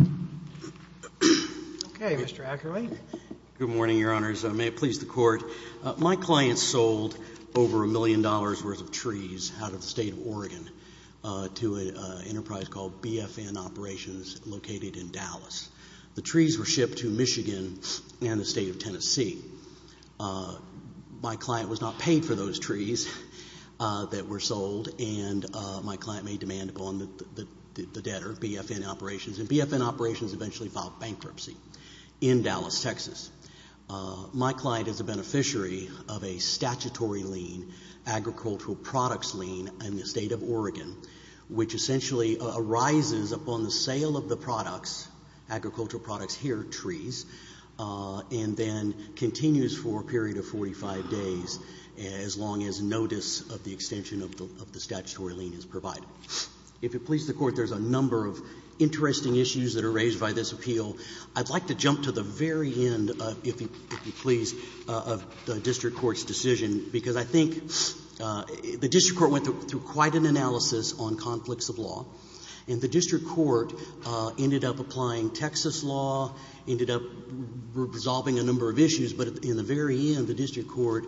Okay, Mr. Ackerley. Good morning, Your Honors. May it please the Court. My client sold over a million dollars' worth of trees out of the State of Oregon to an enterprise called BFN Operations located in Dallas. The trees were shipped to Michigan and the State of Tennessee. My client was not paid for those trees that were sold, and my client made demand upon the debtor, BFN Operations, and BFN Operations eventually filed bankruptcy in Dallas, Texas. My client is a beneficiary of a statutory lien, agricultural products lien in the State of Oregon, which essentially arises upon the sale of the products, agricultural products here, trees, and then continues for a period of 45 days as long as notice of the extension of the statutory lien is provided. If it please the Court, there's a number of interesting issues that are raised by this appeal. I'd like to jump to the very end, if you please, of the district court's decision, because I think the district court went through quite an analysis on conflicts of law. And the district court ended up applying Texas law, ended up resolving a number of issues, but in the very end, the district court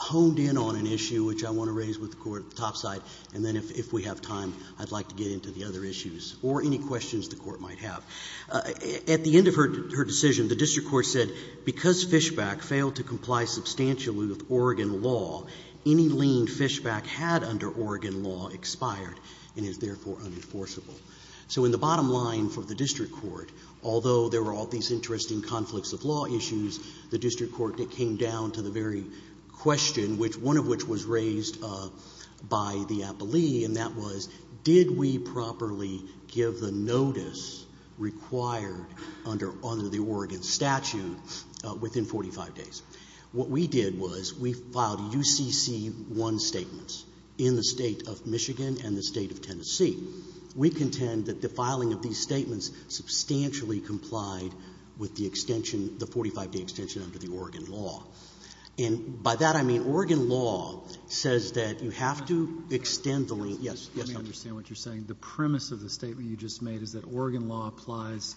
honed in on an issue which I want to raise with the Court at the top side, and then if we have time, I'd like to get into the other issues or any questions the Court might have. At the end of her decision, the district court said, because Fishback failed to comply substantially with Oregon law, any lien Fishback had under Oregon law expired and is therefore unenforceable. So in the bottom line for the district court, although there were all these interesting conflicts of law issues, the district court came down to the very question, one of which was raised by the appellee, and that was, did we properly give the notice required under the Oregon statute within 45 days? What we did was we filed UCC1 statements in the State of Michigan and the State of Tennessee. We contend that the filing of these statements substantially complied with the extension, the 45-day extension under the Oregon law. And by that, I mean Oregon law says that you have to extend the lien. Yes. Yes. Let me understand what you're saying. The premise of the statement you just made is that Oregon law applies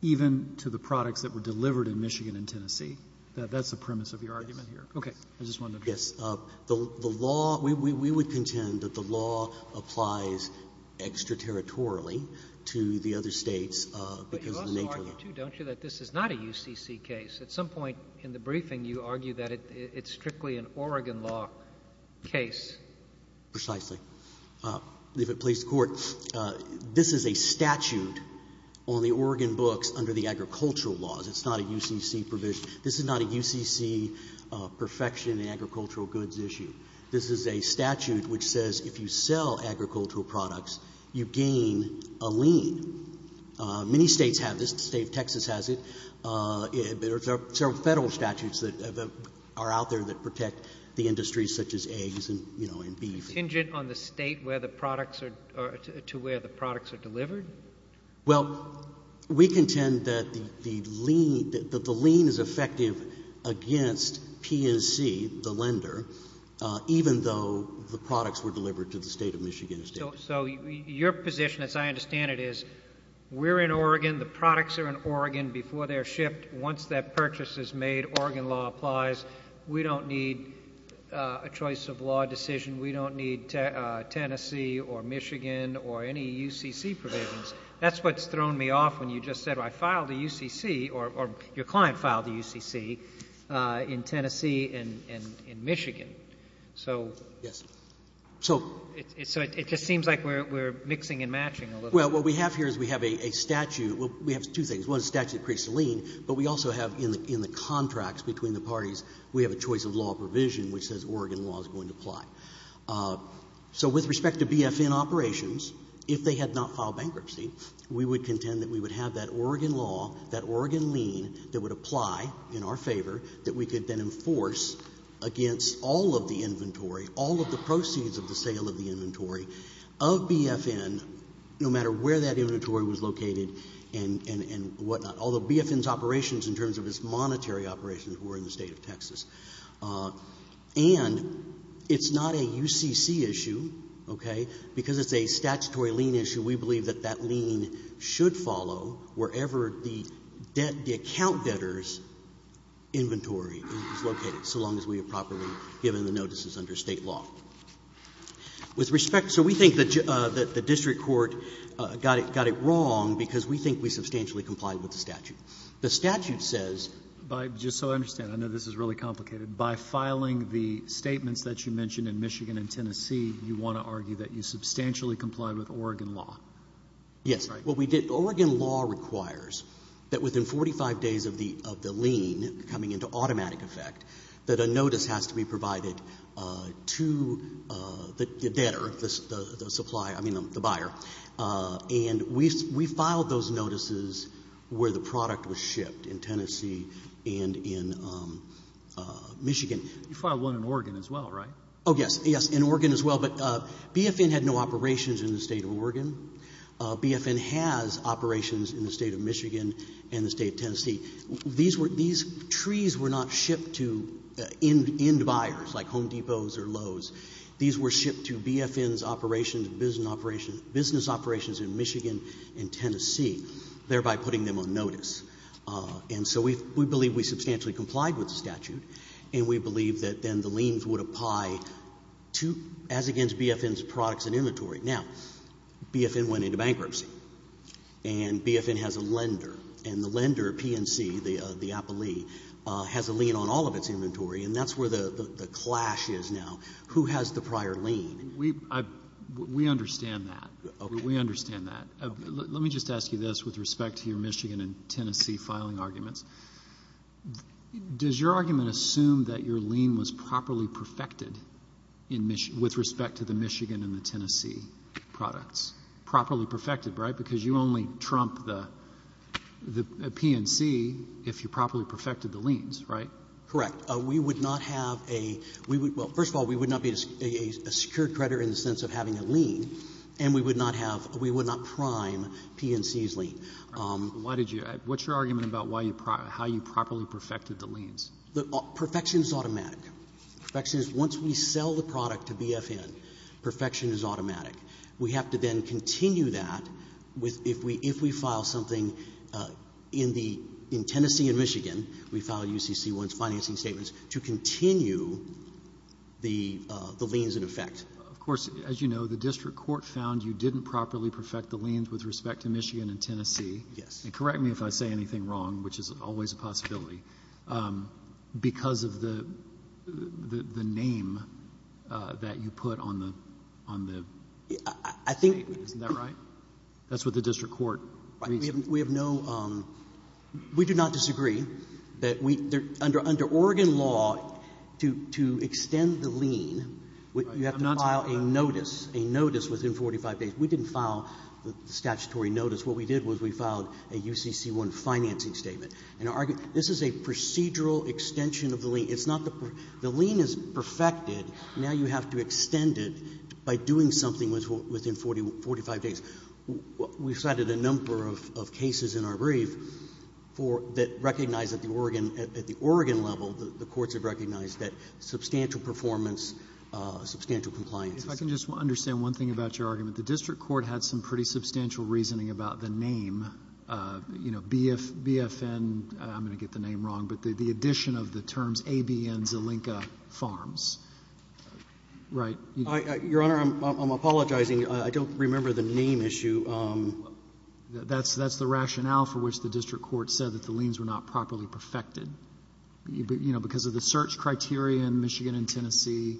even to the products that were delivered in Michigan and Tennessee. That's the premise of your argument here. Yes. Okay. I just wanted to make sure. Yes. The law, we would contend that the law applies extraterritorially to the other States because of the nature of it. But you also argue too, don't you, that this is not a UCC case? At some point in the briefing, you argue that it's strictly an Oregon law case. Precisely. If it please the Court, this is a statute on the Oregon books under the agricultural laws. It's not a UCC provision. This is not a UCC perfection in agricultural goods issue. This is a statute which says if you sell agricultural products, you gain a lien. Many States have this. The State of Texas has it. There are several Federal statutes that are out there that protect the industries such as eggs and beef. Contingent on the State to where the products are delivered? Well, we contend that the lien is effective against PNC, the lender, even though the products were delivered to the State of Michigan. So your position, as I understand it, is we're in Oregon. The products are in Oregon before they are shipped. Once that purchase is made, Oregon law applies. We don't need a choice of law decision. We don't need Tennessee or Michigan or any UCC provisions. That's what's thrown me off when you just said I filed a UCC or your client filed a UCC in Tennessee and Michigan. So it just seems like we're mixing and matching a little bit. Well, what we have here is we have a statute. Well, we have two things. One is a statute that creates a lien, but we also have in the contracts between the parties, we have a choice of law provision which says Oregon law is going to apply. So with respect to BFN operations, if they had not filed bankruptcy, we would contend that we would have that Oregon law, that Oregon lien that would apply in our favor that we could then enforce against all of the inventory, all of the proceeds of the sale of the inventory of BFN, no matter where that inventory was located and whatnot. Although BFN's operations in terms of its monetary operations were in the State of Texas. And it's not a UCC issue, okay, because it's a statutory lien issue, we believe that that lien should follow wherever the account debtor's inventory is located, so long as we have properly given the notices under State law. With respect, so we think that the district court got it wrong because we think we substantially complied with the statute. The statute says by just so I understand, I know this is really complicated, by filing the statements that you mentioned in Michigan and Tennessee, you want to argue that you substantially complied with Oregon law, right? Yes. What we did, Oregon law requires that within 45 days of the lien coming into automatic effect, that a notice has to be provided to the debtor, the supplier, I mean the buyer. And we filed those notices where the product was shipped in Tennessee and in Michigan. You filed one in Oregon as well, right? Oh yes, yes, in Oregon as well. But BFN had no operations in the State of Oregon. BFN has operations in the State of Michigan and the State of Tennessee. These trees were not shipped to end buyers like Home Depots or Lowe's. These were shipped to BFN's operations and business operations in Michigan and Tennessee, thereby putting them on notice. And so we believe we substantially complied with the statute, and we believe that then the liens would apply to, as against BFN's products and inventory. Now, BFN went into bankruptcy, and BFN has a lender, and the lender, P&C, the appellee, has a lien on all of its inventory, and that's where the clash is now. Who has the prior lien? We understand that. We understand that. Let me just ask you this with respect to your Michigan and Tennessee filing arguments. Does your argument assume that your lien was properly perfected with respect to the Michigan and the Tennessee products? Properly perfected, right? Because you only trump the P&C if you properly perfected the liens, right? Correct. We would not have a — well, first of all, we would not be a secured creditor in the sense of having a lien, and we would not have — we would not prime P&C's lien. Why did you — what's your argument about how you properly perfected the liens? Perfection is automatic. Perfection is — once we sell the product to BFN, perfection is automatic. We have to then continue that with — if we file something in the — in Tennessee and Michigan, we file UCC-1's financing statements, to continue the liens in effect. Of course, as you know, the district court found you didn't properly perfect the liens with respect to Michigan and Tennessee. Yes. And correct me if I say anything wrong, which is always a possibility, because of the name that you put on the — on the statement, isn't that right? I think — That's what the district court reasoned. We have no — we do not disagree that we — under Oregon law, to extend the lien, you have to file a notice, a notice within 45 days. We didn't file the statutory notice. What we did was we filed a UCC-1 financing statement. And our — this is a procedural extension of the lien. It's not the — the lien is perfected. Now you have to extend it by doing something within 45 days. We cited a number of cases in our brief for — that recognize that the Oregon — at the Oregon level, the courts have recognized that substantial performance, substantial compliance. If I can just understand one thing about your argument. The district court had some pretty substantial reasoning about the name, you know, BFN — I'm going to get the name wrong — but the addition of the terms ABN Zelenka Farms, right? Your Honor, I'm apologizing. I don't remember the name issue. That's the rationale for which the district court said that the liens were not properly perfected, you know, because of the search criteria in Michigan and Tennessee.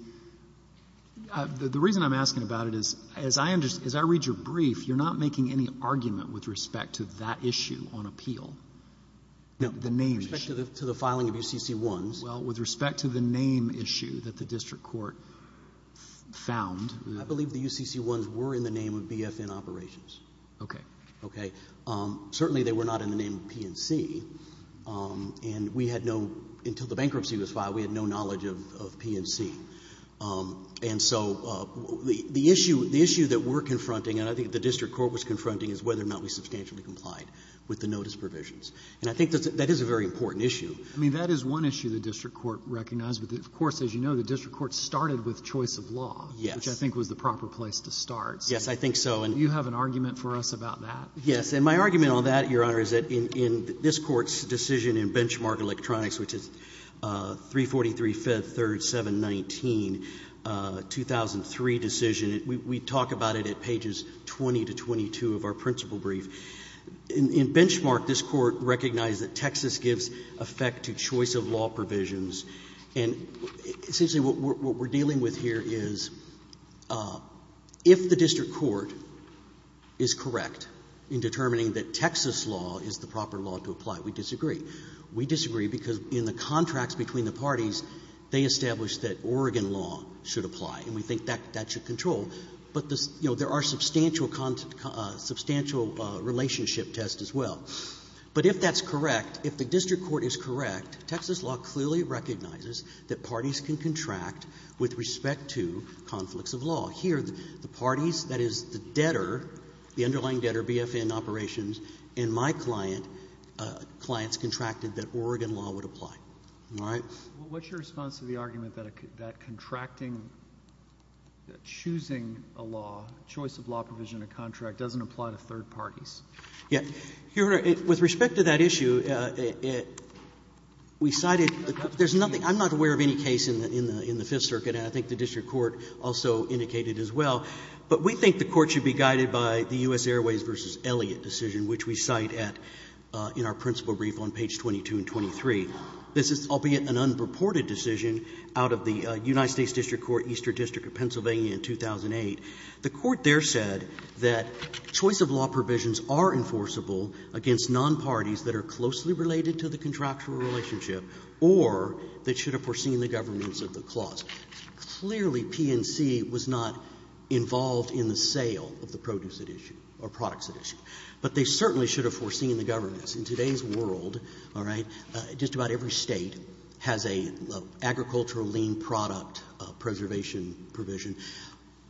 The reason I'm asking about it is, as I read your brief, you're not making any argument with respect to that issue on appeal, the name issue. With respect to the — to the filing of UCC-1s. Well, with respect to the name issue that the district court found. I believe the UCC-1s were in the name of BFN operations. Okay. Okay. Certainly they were not in the name of PNC. And we had no — until the bankruptcy was filed, we had no knowledge of PNC. And so the issue — the issue that we're confronting, and I think the district court was confronting, is whether or not we substantially complied with the notice provisions. And I think that is a very important issue. I mean, that is one issue the district court recognized. But, of course, as you know, the district court started with choice of law. Yes. Which I think was the proper place to start. Yes, I think so. Do you have an argument for us about that? Yes. And my argument on that, Your Honor, is that in this court's decision in Benchmark Electronics, which is 343, 5th, 3rd, 7, 19, 2003 decision, we talk about it at pages 20 to 22 of our principal brief. In Benchmark, this court recognized that Texas gives effect to choice of law provisions. And essentially what we're dealing with here is if the district court is correct in determining that Texas law is the proper law to apply, we disagree. We disagree because in the contracts between the parties, they established that Oregon law should apply, and we think that that should control. But, you know, there are substantial relationship tests as well. But if that's correct, if the district court is correct, Texas law clearly recognizes that parties can contract with respect to conflicts of law. Here, the parties, that is the debtor, the underlying debtor, BFN operations, and my client, clients contracted that Oregon law would apply. All right? Well, what's your response to the argument that contracting, that choosing a law, choice of law provision in a contract doesn't apply to third parties? Yeah. Your Honor, with respect to that issue, we cited — there's nothing — I'm not aware of any case in the Fifth Circuit, and I think the district court also indicated as well. But we think the court should be guided by the U.S. Airways v. Elliott decision, which we cite at — in our principal brief on page 22 and 23. This is, albeit an unreported decision out of the United States District Court, Eastern District of Pennsylvania in 2008. The court there said that choice of law provisions are enforceable against nonparties that are closely related to the contractual relationship or that should have foreseen the governance of the clause. Clearly, PNC was not involved in the sale of the produce at issue or products at issue. But they certainly should have foreseen the governance. In today's world, all right, just about every State has an agricultural lean product preservation provision.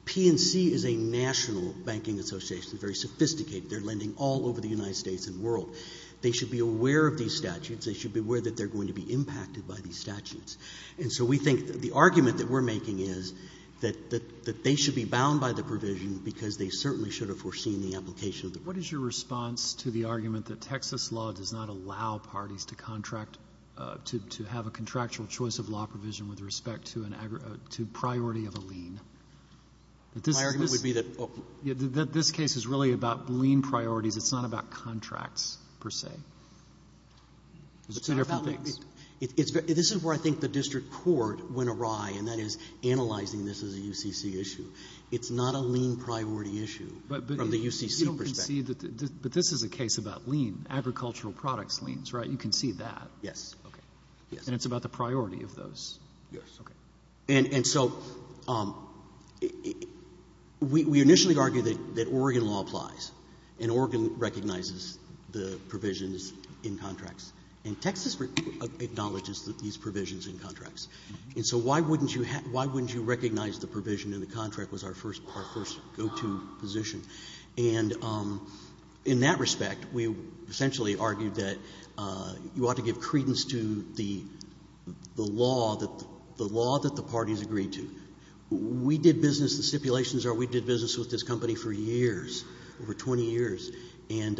PNC is a national banking association, very sophisticated. They're lending all over the United States and world. They should be aware of these statutes. They should be aware that they're going to be impacted by these statutes. And so we think the argument that we're making is that they should be bound by the provision because they certainly should have foreseen the application of the clause. What is your response to the argument that Texas law does not allow parties to contract — to have a contractual choice of law provision with respect to priority of a lean? My argument would be that — This case is really about lean priorities. It's not about contracts, per se. It's two different things. This is where I think the district court went awry, and that is analyzing this as a UCC issue. It's not a lean priority issue from the UCC perspective. But this is a case about lean, agricultural products leans, right? You can see that. Yes. And it's about the priority of those. And so we initially argued that Oregon law applies, and Oregon recognizes the provisions in contracts. And Texas acknowledges these provisions in contracts. And so why wouldn't you recognize the provision in the contract was our first go-to position? And in that respect, we essentially argued that you ought to give credence to the law, the law that the parties agreed to. We did business — the stipulations are we did business with this company for years, over 20 years. And,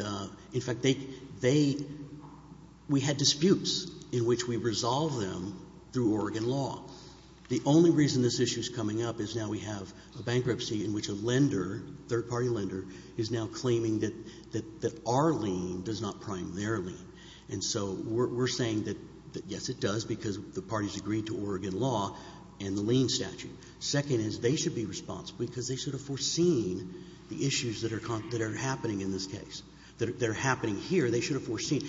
in fact, they — we had disputes in which we resolved them through Oregon law. The only reason this issue is coming up is now we have a bankruptcy in which a lender, third-party lender, is now claiming that our lien does not prime their lien. And so we're saying that, yes, it does because the parties agreed to Oregon law and the lien statute. Second is they should be responsible because they should have foreseen the issues that are happening in this case, that are happening here. They should have foreseen.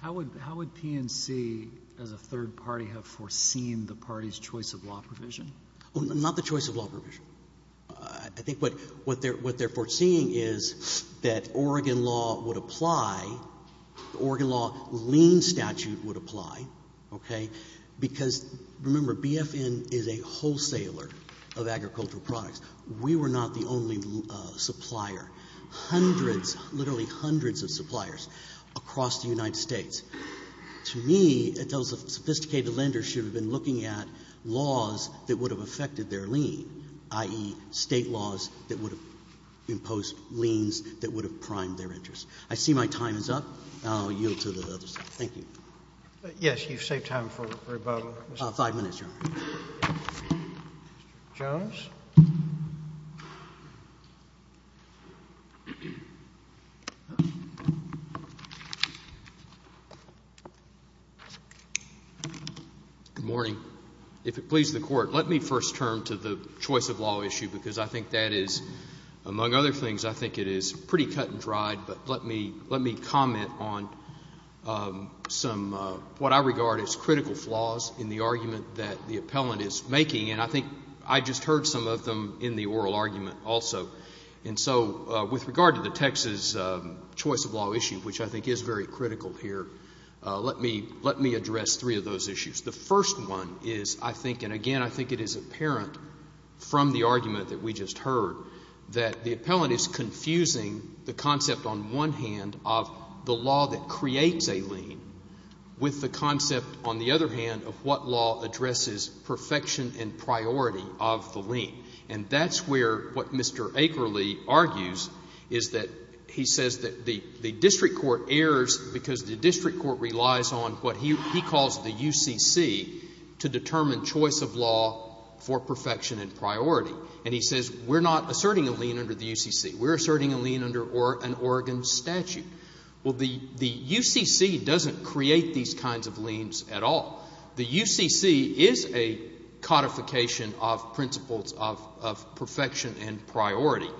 How would PNC, as a third party, have foreseen the party's choice of law provision? Not the choice of law provision. I think what they're foreseeing is that Oregon law would apply, the Oregon law lien statute would apply, okay, because, remember, BFN is a wholesaler of agricultural products. We were not the only supplier. Hundreds, literally hundreds of suppliers across the United States. To me, those sophisticated lenders should have been looking at laws that would have affected their lien, i.e. State laws that would have imposed liens that would have primed their interest. I see my time is up. I'll yield to the other side. Thank you. Yes, you've saved time for rebuttal. Five minutes, Your Honor. Mr. Jones? Good morning. If it pleases the Court, let me first turn to the choice of law issue because I think that is, among other things, I think it is pretty cut and dried, but let me comment on some, what I regard as critical flaws in the argument that the appellant is making, and I think I just heard some of them in the oral argument also. And so with regard to the Texas choice of law issue, which I think is very critical here, let me address three of those issues. The first one is, I think, and again, I think it is apparent from the argument that we just heard, that the appellant is confusing the concept on one hand of the law that creates a lien with the concept, on the other hand, of what law addresses perfection and priority of the lien. And that's where what Mr. Akerle argues is that he says that the district court errs because the district court relies on what he calls the UCC to determine choice of law for perfection and priority. And he says, we're not asserting a lien under the UCC. We're asserting a lien under an Oregon statute. Well, the UCC doesn't create these principles of perfection and priority.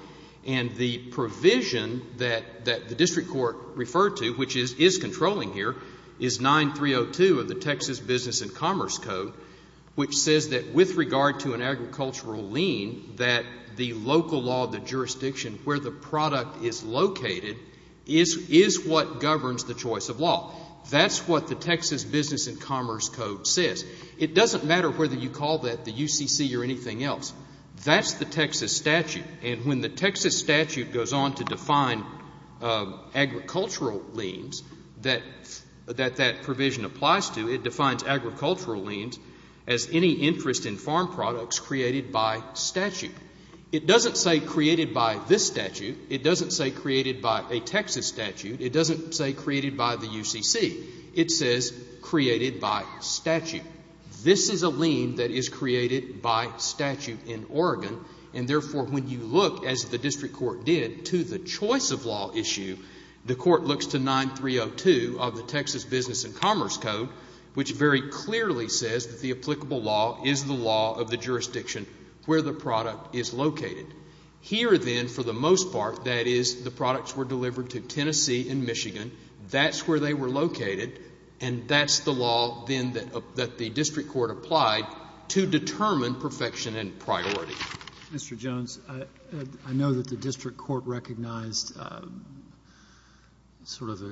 And the provision that the district court referred to, which is controlling here, is 9302 of the Texas Business and Commerce Code, which says that with regard to an agricultural lien, that the local law of the jurisdiction, where the product is located, is what governs the choice of law. That's what the Texas Business and Commerce Code says. It doesn't matter whether you call that the UCC or anything else. That's the Texas statute. And when the Texas statute goes on to define agricultural liens that that provision applies to, it defines agricultural liens as any interest in farm products created by statute. It doesn't say created by this statute. It doesn't say created by a Texas statute. It doesn't say created by the UCC. It says created by statute. This is a lien that is created by statute in Oregon. And therefore, when you look, as the district court did, to the choice of law issue, the court looks to 9302 of the Texas Business and Commerce Code, which very clearly says that the applicable law is the law of the jurisdiction where the product is located. Here, then, for the most part, that is the products were delivered to Tennessee and Michigan. That's where they were located. And that's the law, then, that the district court applied to determine perfection and priority. Mr. Jones, I know that the district court recognized sort of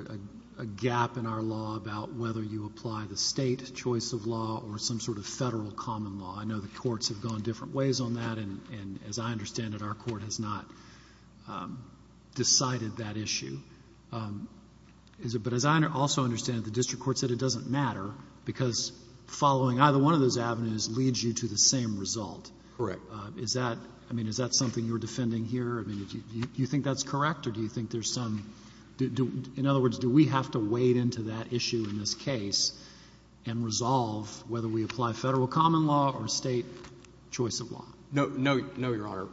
a gap in our law about whether you apply the state choice of law or some sort of federal common law. I know the courts have gone different ways on that. And as I understand it, our court has not decided that issue. Is it — but as I also understand it, the district court said it doesn't matter because following either one of those avenues leads you to the same result. Correct. Is that — I mean, is that something you're defending here? I mean, do you think that's correct or do you think there's some — in other words, do we have to wade into that issue in this case and resolve whether we apply federal common law or state choice of law? No, Your Honor.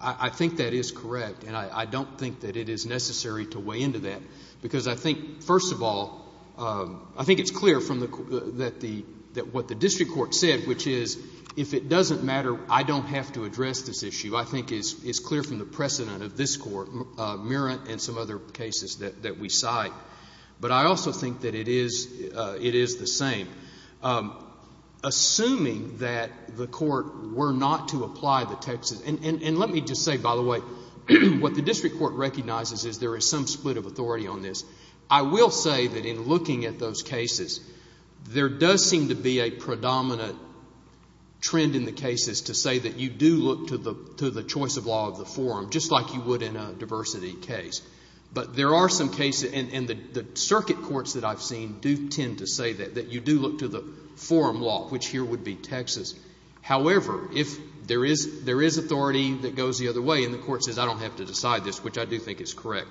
I think that is correct. And I don't think that it is necessary to wade into that because I think, first of all, I think it's clear from the — that the — that what the district court said, which is if it doesn't matter, I don't have to address this issue, I think is clear from the precedent of this Court, Merritt and some other cases that we cite. But I also think that it is — it is the same. Assuming that the Court were not to apply the Texas — and let me just say, by the way, what the district court recognizes is there is some split of authority on this. I will say that in looking at those cases, there does seem to be a predominant trend in the cases to say that you do look to the choice of law of the forum, just like you would in a diversity case. But there are some cases — and the circuit courts that I've seen do tend to say that, that you do look to the forum law, which here would be Texas. However, if there is — there is authority that goes the other way and the Court says I don't have to decide this, which I do think is correct,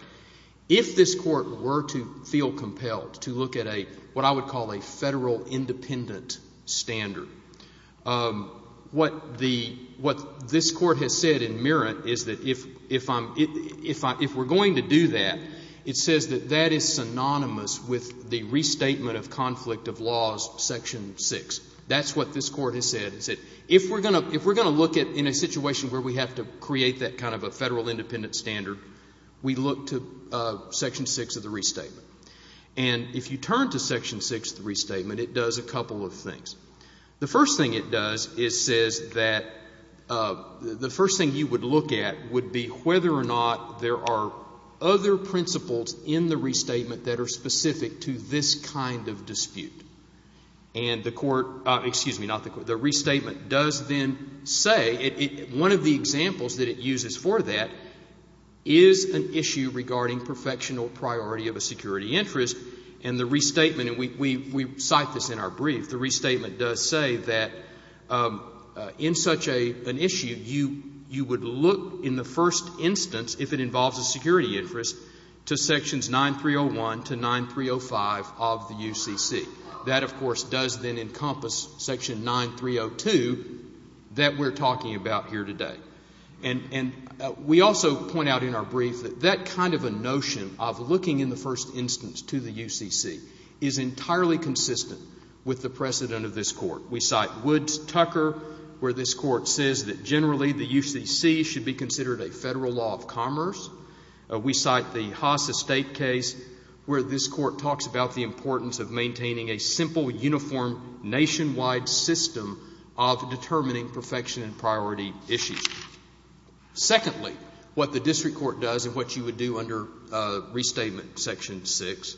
if this Court were to feel compelled to look at a — what I would call a federal independent standard, what the — what this Court has said in Merritt is that if I'm — if we're going to do that, it says that that is synonymous with the restatement of conflict of laws, section 6. That's what this Court has said. It said if we're going to — if we're going to look at — in a situation where we have to create that kind of a federal independent standard, we look to section 6 of the restatement. And if you turn to section 6 of the restatement, it does a couple of things. The first thing it does is says that — the first thing you would look at would be whether or not there are other principles in the restatement that are specific to this kind of dispute. And the Court — excuse me, not the Court — the restatement does then say — one of the examples that it uses for that is an issue regarding perfectional priority of a security interest, and the restatement — and we cite this in our brief — the restatement does say that in such an issue, you would look in the first instance, if it involves a security interest, to sections 9301 to 9305 of the UCC. That, of course, does then encompass section 9302 that we're talking about here today. And we also point out in our brief that that kind of a notion of looking in the first instance to the UCC is entirely consistent with the precedent of this Court. We cite Woods-Tucker, where this Court says that generally the UCC should be considered a federal law of commerce. We cite the Haas Estate case, where this Court talks about the importance of maintaining a simple, uniform, nationwide system of determining perfection and priority issues. Secondly, what the district court does and what you would do under restatement section 6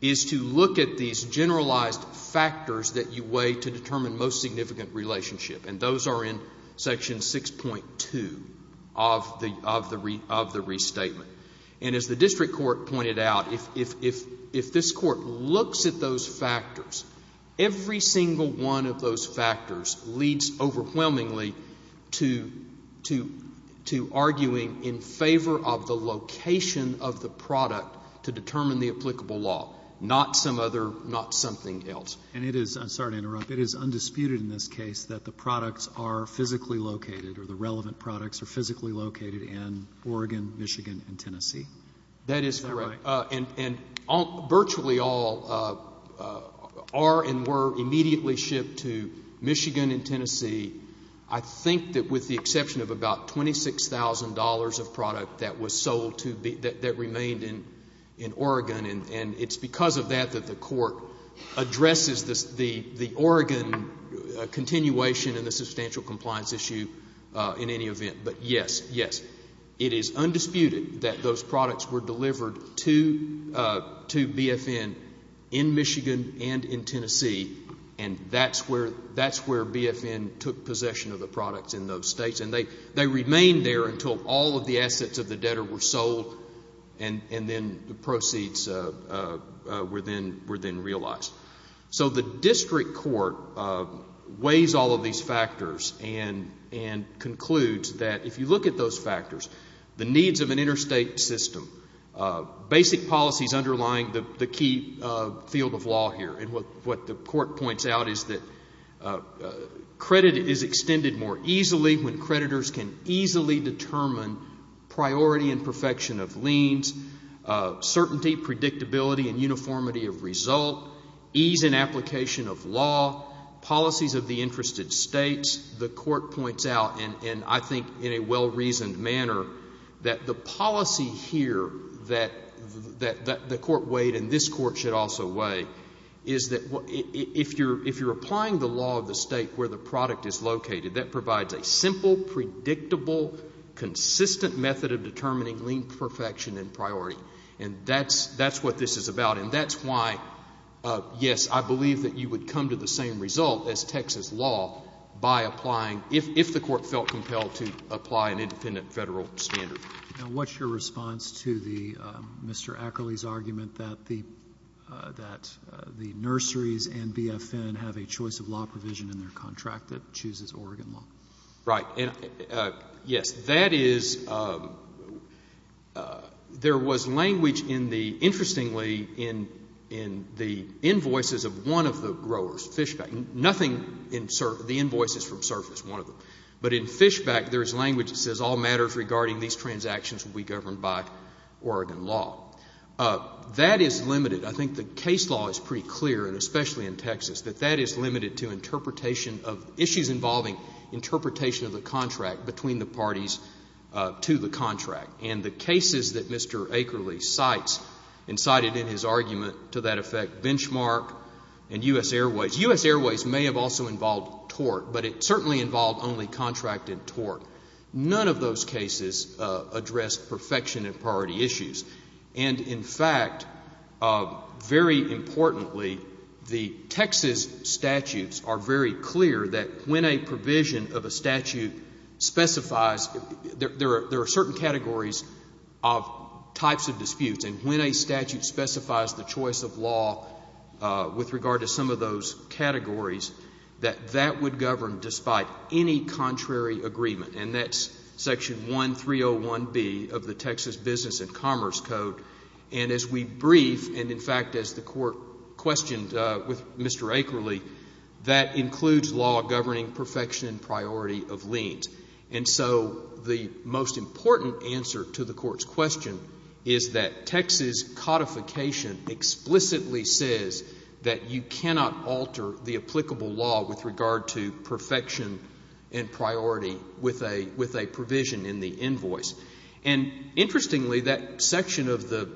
is to look at these generalized factors that you weigh to determine most significant relationship, and those are in section 6.2 of the restatement. And as the district court pointed out, if this Court looks at those factors, every single one of those factors leads overwhelmingly to arguing in favor of the location of the product to determine the applicable law, not some other, not something else. And it is, I'm sorry to interrupt, it is undisputed in this case that the products are physically located or the relevant products are physically located in Oregon, Michigan, and Tennessee? That is correct. Am I right? And virtually all are and were immediately shipped to Michigan and Tennessee, I think that with the exception of about $26,000 of product that was sold to, that remained in Oregon, and it's because of that that the Court addresses the Oregon continuation and the substantial compliance issue in any event. But yes, yes, it is undisputed that those were shipped to BFN in Michigan and in Tennessee, and that's where BFN took possession of the products in those states, and they remained there until all of the assets of the debtor were sold and then the proceeds were then realized. So the district court weighs all of these factors and concludes that if you look at those factors, the needs of an interstate system, basic policies underlying the key field of law here, and what the Court points out is that credit is extended more easily when creditors can easily determine priority and perfection of liens, certainty, predictability, and uniformity of result, ease in application of law, policies of the interested states, the Court points out, and I think in a well-reasoned manner, that the policy here that the Court weighed and this Court should also weigh is that if you're applying the law of the state where the product is located, that provides a simple, predictable, consistent method of determining lien perfection and priority, and that's what this is about, and that's why, yes, I believe that you would come to the same result as Texas law by applying if the Court felt compelled to apply an independent Federal standard. Now, what's your response to the Mr. Ackerley's argument that the nurseries and BFN have a choice of law provision in their contract that chooses Oregon law? Right. Yes. That is, there was language in the, interestingly, in the invoices of one of the growers, Fishback, nothing in the invoices from Surface, one of them, but in Fishback, there is language that says all matters regarding these transactions will be governed by Oregon law. That is limited. I think the case law is pretty clear, and especially in Texas, that that is limited to interpretation of issues involving interpretation of the contract between the parties to the contract, and the cases that Mr. Ackerley cites and cited in his argument to that effect, benchmark and U.S. Airways. U.S. Airways may have also involved tort, but it certainly involved only contracted tort. None of those cases address perfection and priority issues, and in fact, very importantly, the Texas statutes are very clear that when a provision of a statute specifies, there are certain categories of types of disputes, and when a statute specifies the choice of law with regard to some of those categories, that that would govern despite any contrary agreement, and that's section 1301B of the Texas Business and Commerce Code, and as we brief, and in fact, as the court questioned with Mr. Ackerley, that includes law governing perfection and priority of liens, and so the most important answer to the court's question is that Texas codification explicitly says that you cannot alter the applicable law with regard to perfection and priority with a provision in the invoice, and interestingly, that section of the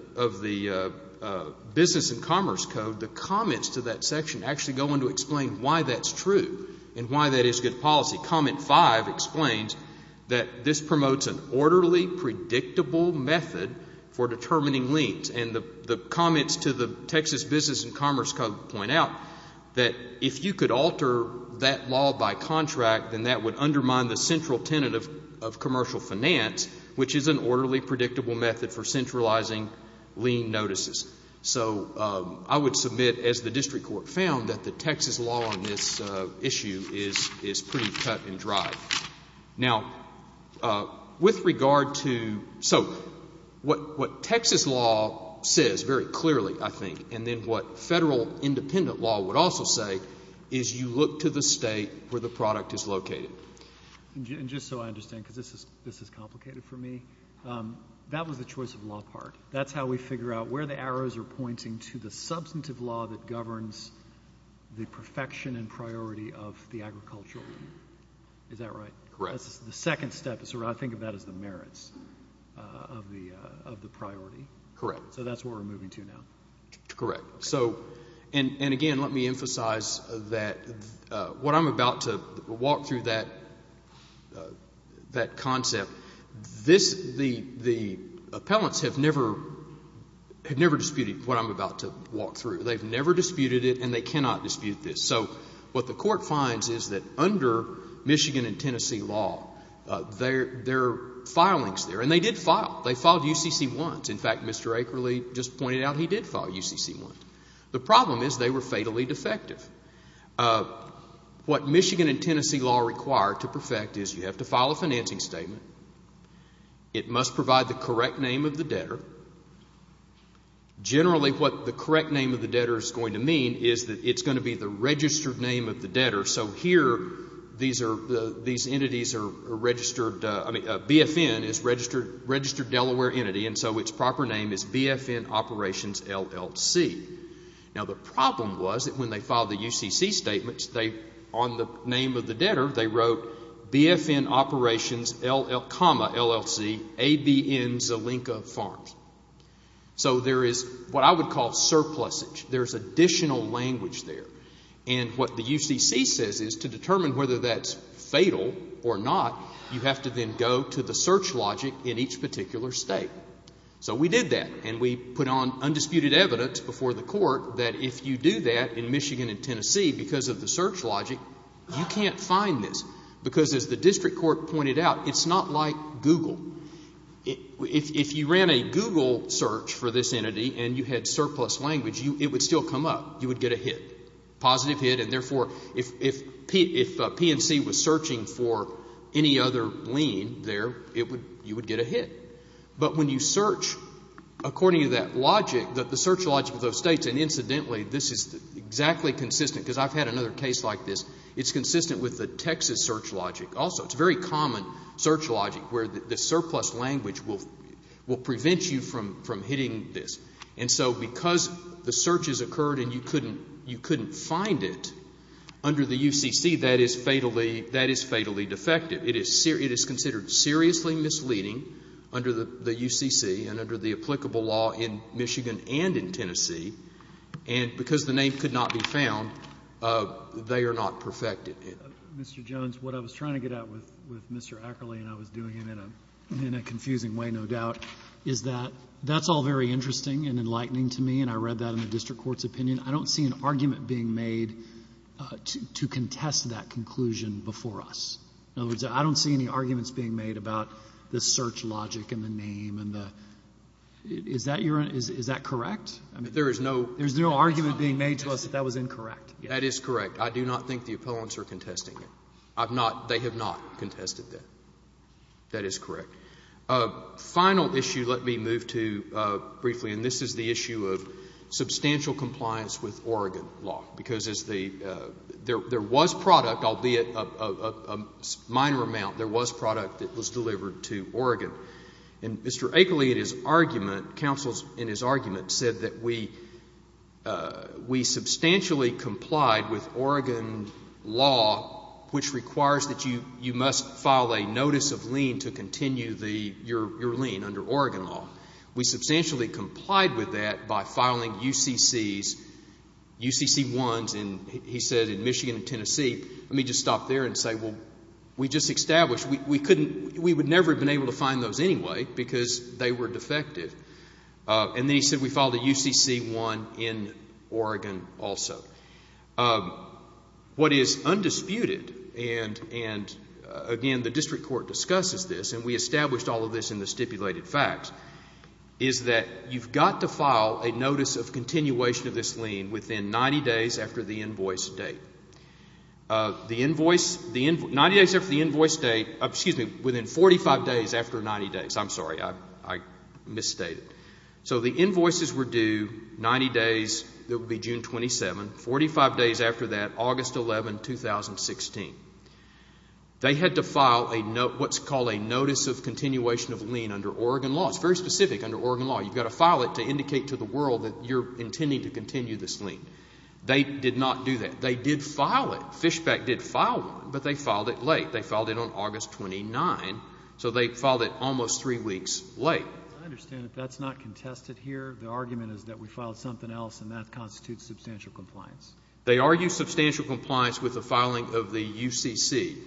Business and Commerce Code, the comments to that section actually go on to explain why that's true and why that is good policy. Comment 5 explains that this promotes an orderly, predictable method for determining liens, and the comments to the court say that if you alter that law by contract, then that would undermine the central tenet of commercial finance, which is an orderly, predictable method for centralizing lien notices. So I would submit, as the district court found, that the Texas law on this issue is pretty cut and dry. Now, with regard to, so what Texas law says very clearly, I think, and then what federal independent law would also say is you look to the state where the product is located. And just so I understand, because this is complicated for me, that was the choice of law part. That's how we figure out where the arrows are pointing to the substantive law that governs the perfection and priority of the agricultural lien. Is that right? Correct. That's the second step. I think of that as the merits of the priority. Correct. So that's where we're moving to now. Correct. So, and again, let me emphasize that what I'm about to walk through that concept, this, the appellants have never disputed what I'm about to walk through. They've never disputed it, and they cannot dispute this. So what the court finds is that under Michigan and Tennessee law, there are filings there. And they did file. They filed UCC-1s. In fact, Mr. Akerle just pointed out he did file UCC-1s. The problem is they were fatally defective. What Michigan and Tennessee law require to perfect is you have to file a financing statement. It must provide the correct name of the debtor. Generally, what the correct name of the debtor is going to mean is that it's going to be the registered name of the debtor. So here, these are, these entities are registered, I mean, BFN is registered Delaware entity, and so its proper name is BFN Operations, LLC. Now, the problem was that when they filed the UCC statements, they, on the name of the debtor, they wrote BFN Operations, LLC, ABN Zelenka Farms. So there is what I would call surplusage. There's additional language there. And what the UCC says is to determine whether that's fatal or not, you have to then go to the search logic in each particular state. So we did that, and we put on undisputed evidence before the court that if you do that in Michigan and Tennessee because of the search logic, you can't find this. Because as the district court pointed out, it's not like Google. If you ran a Google search for this entity and you had surplus language, it would still come up. You would get a hit, positive hit, and therefore, if PNC was searching for any other lien there, you would get a hit. But when you search according to that logic, the search logic of those states, and incidentally, this is exactly consistent, because I've had another case like this, it's consistent with the Texas search logic also. It's a very common search logic where the surplus language will prevent you from hitting this. And so because the searches occurred and you couldn't find it under the UCC, that is fatally defective. It is considered seriously misleading under the UCC and under the applicable law in Michigan and in Tennessee. And because the name could not be found, they are not perfected. Mr. Jones, what I was trying to get at with Mr. Ackerley, and I was doing it in a confusing way, no doubt, is that that's all very interesting and enlightening to me, and I read that in the district court's opinion. I don't see an argument being made to contest that conclusion before us. In other words, I don't see any arguments being made about the search logic and the name and the — is that your — is that correct? I mean, there's no argument being made to us that that was incorrect. That is correct. I do not think the opponents are contesting it. I've not — they have not contested that. That is correct. Final issue, let me move to briefly, and this is the issue of substantial compliance with Oregon law, because as the — there was product, albeit a minor amount, there was product that was delivered to Oregon. And Mr. Ackerley, in his argument, counsels in his argument said that we substantially complied with Oregon law, which requires that you must file a notice of lien to continue the — your lien under Oregon law. We substantially complied with that by filing UCCs, UCC1s, and he said in Michigan and Tennessee — let me just stop there and say, well, we just established — we couldn't — we would never have been able to find those anyway, because they were defective. And then he said we filed a UCC1 in Oregon also. What is undisputed, and again, the district court discusses this, and we established all of this in the stipulated facts, is that you've got to file a notice of continuation of this lien within 90 days after the invoice date. The invoice — the — 90 days after the 90 days — I'm sorry, I misstated. So the invoices were due 90 days — that would be June 27. Forty-five days after that, August 11, 2016. They had to file a — what's called a notice of continuation of lien under Oregon law. It's very specific under Oregon law. You've got to file it to indicate to the world that you're intending to continue this lien. They did not do that. They did file it. Fishbeck did file one, but they filed it late. They filed it almost three weeks late. I understand that that's not contested here. The argument is that we filed something else and that constitutes substantial compliance. They argue substantial compliance with the filing of the UCC1.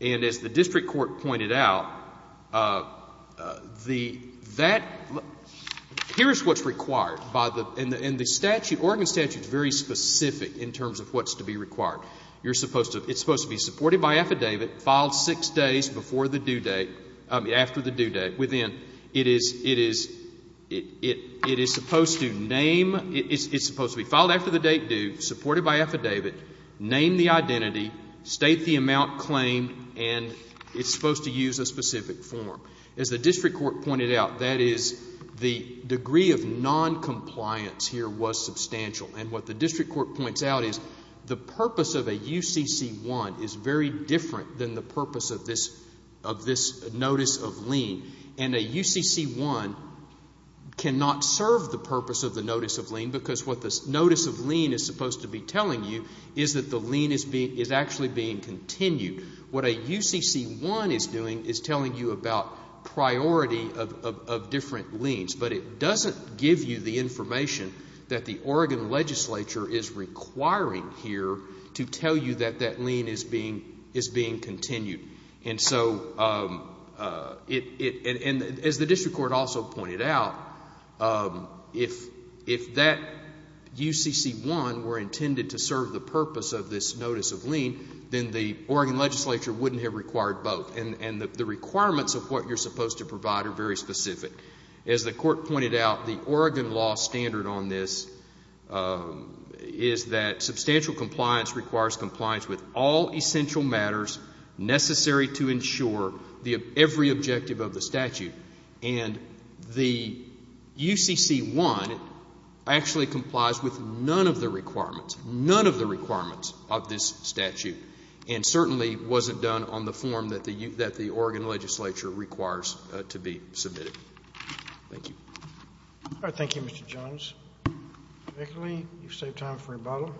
And as the district court pointed out, the — that — here's what's required by the — and the statute, Oregon statute, is very specific in terms of what's to be required. You're supposed to — it's based before the due date — I mean, after the due date, within — it is — it is supposed to name — it's supposed to be filed after the date due, supported by affidavit, name the identity, state the amount claimed, and it's supposed to use a specific form. As the district court pointed out, that is, the degree of noncompliance here was substantial. And what the district court points out is the purpose of a UCC1 is very different than the purpose of this — of this notice of lien. And a UCC1 cannot serve the purpose of the notice of lien because what this notice of lien is supposed to be telling you is that the lien is being — is actually being continued. What a UCC1 is doing is telling you about priority of — of different liens, but it doesn't give you the information that the Oregon legislature is requiring here to tell you that that lien is being — is being continued. And so, it — and as the district court also pointed out, if that UCC1 were intended to serve the purpose of this notice of lien, then the Oregon legislature wouldn't have required both. And the requirements of what you're supposed to provide are very specific. As the court pointed out, the Oregon law standard on this is that substantial compliance requires compliance with all essential matters necessary to ensure the — every objective of the statute. And the UCC1 actually complies with none of the requirements, none of the requirements of this statute, and certainly wasn't done on the form that the — that the Oregon legislature requires to be submitted. Thank you. All right. Thank you, Mr. Jones. Vickerley, you've saved time for rebuttal.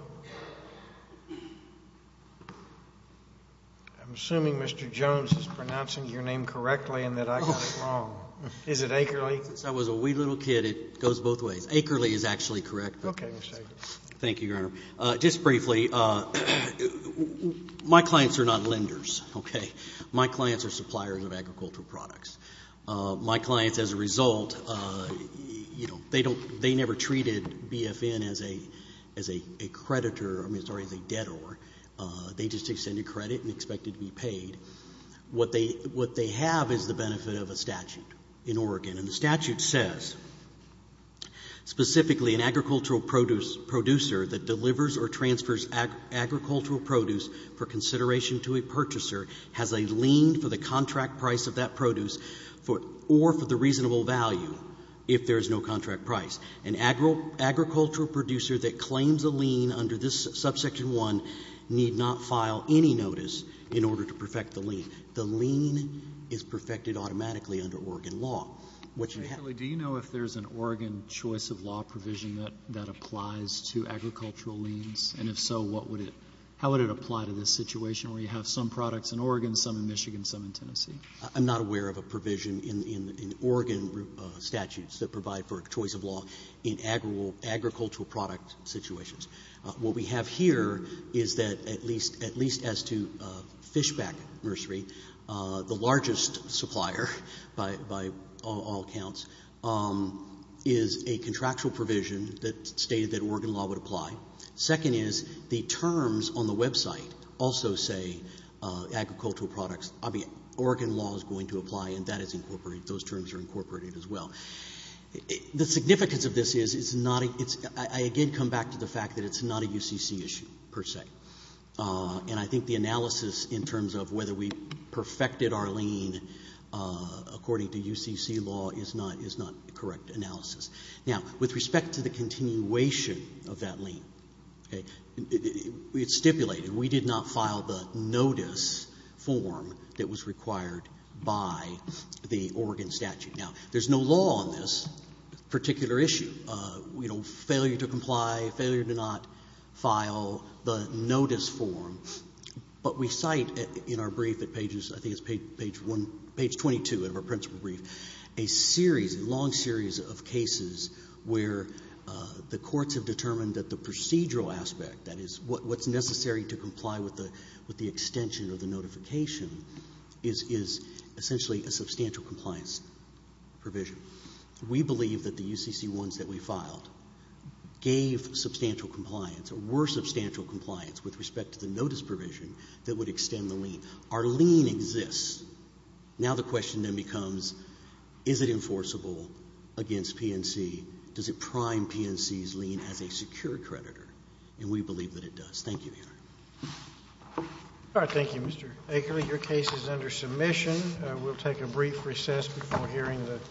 I'm assuming Mr. Jones is pronouncing your name correctly and that I got it wrong. Is it Akerley? Since I was a wee little kid, it goes both ways. Akerley is actually correct. Okay, Mr. Akerley. Thank you, Your Honor. Just briefly, my clients are not lenders, okay? My clients are suppliers of agricultural products. My clients, as a result, you know, they don't — they never treated BFN as a — as a creditor — I mean, sorry, as a debtor. They just extended credit and expected to be paid. What they — what they have is the benefit of a statute in Oregon. And the statute says, specifically, an agricultural produce — producer that delivers or transfers agricultural produce for consideration to a purchaser has a lien for the contract price of that produce for — or for the reasonable value, if there is no contract price. An agricultural producer that claims a lien under this Subsection 1 need not file any notice in order to perfect the lien. The lien is perfected automatically under Oregon law. Akerley, do you know if there's an Oregon choice of law provision that applies to agricultural liens? And if so, what would it — how would it apply to this situation where you have some products in Oregon, some in Michigan, some in Tennessee? I'm not aware of a provision in Oregon statutes that provide for a choice of law in agricultural product situations. What we have here is that at least — at least as to Fishback Nursery, the largest supplier by all accounts, is a contractual provision that stated that Oregon law would apply. Second is, the terms on the website also say agricultural products — I mean, Oregon law is going to apply, and that is incorporated. Those terms are incorporated as well. The significance of this is, it's not a — it's — I again come back to the fact that it's not a UCC issue, per se. And I think the analysis in terms of whether we perfected our lien according to UCC law is not — is not correct analysis. Now, with respect to the continuation of that lien, okay, it's stipulated. We did not file the notice form that was required by the Oregon statute. Now, there's no law on this particular issue. You know, failure to comply, failure to not file the notice form, but we cite in our brief at pages — I think it's page one — page 22 of our principal brief a series, a long series of cases where the courts have determined that the procedural aspect, that is, what's necessary to comply with the extension of the notification, is essentially a substantial compliance provision. We believe that the UCC ones that we filed gave substantial compliance or were substantial compliance with respect to the notice provision that would extend the lien. Our lien exists. Now the question then becomes, is it enforceable against PNC? Does it prime PNC's lien as a secure creditor? And we believe that it does. Thank you, Your Honor. All right. Thank you, Mr. Akerley. Your case is under submission. We'll take a brief recess before hearing the —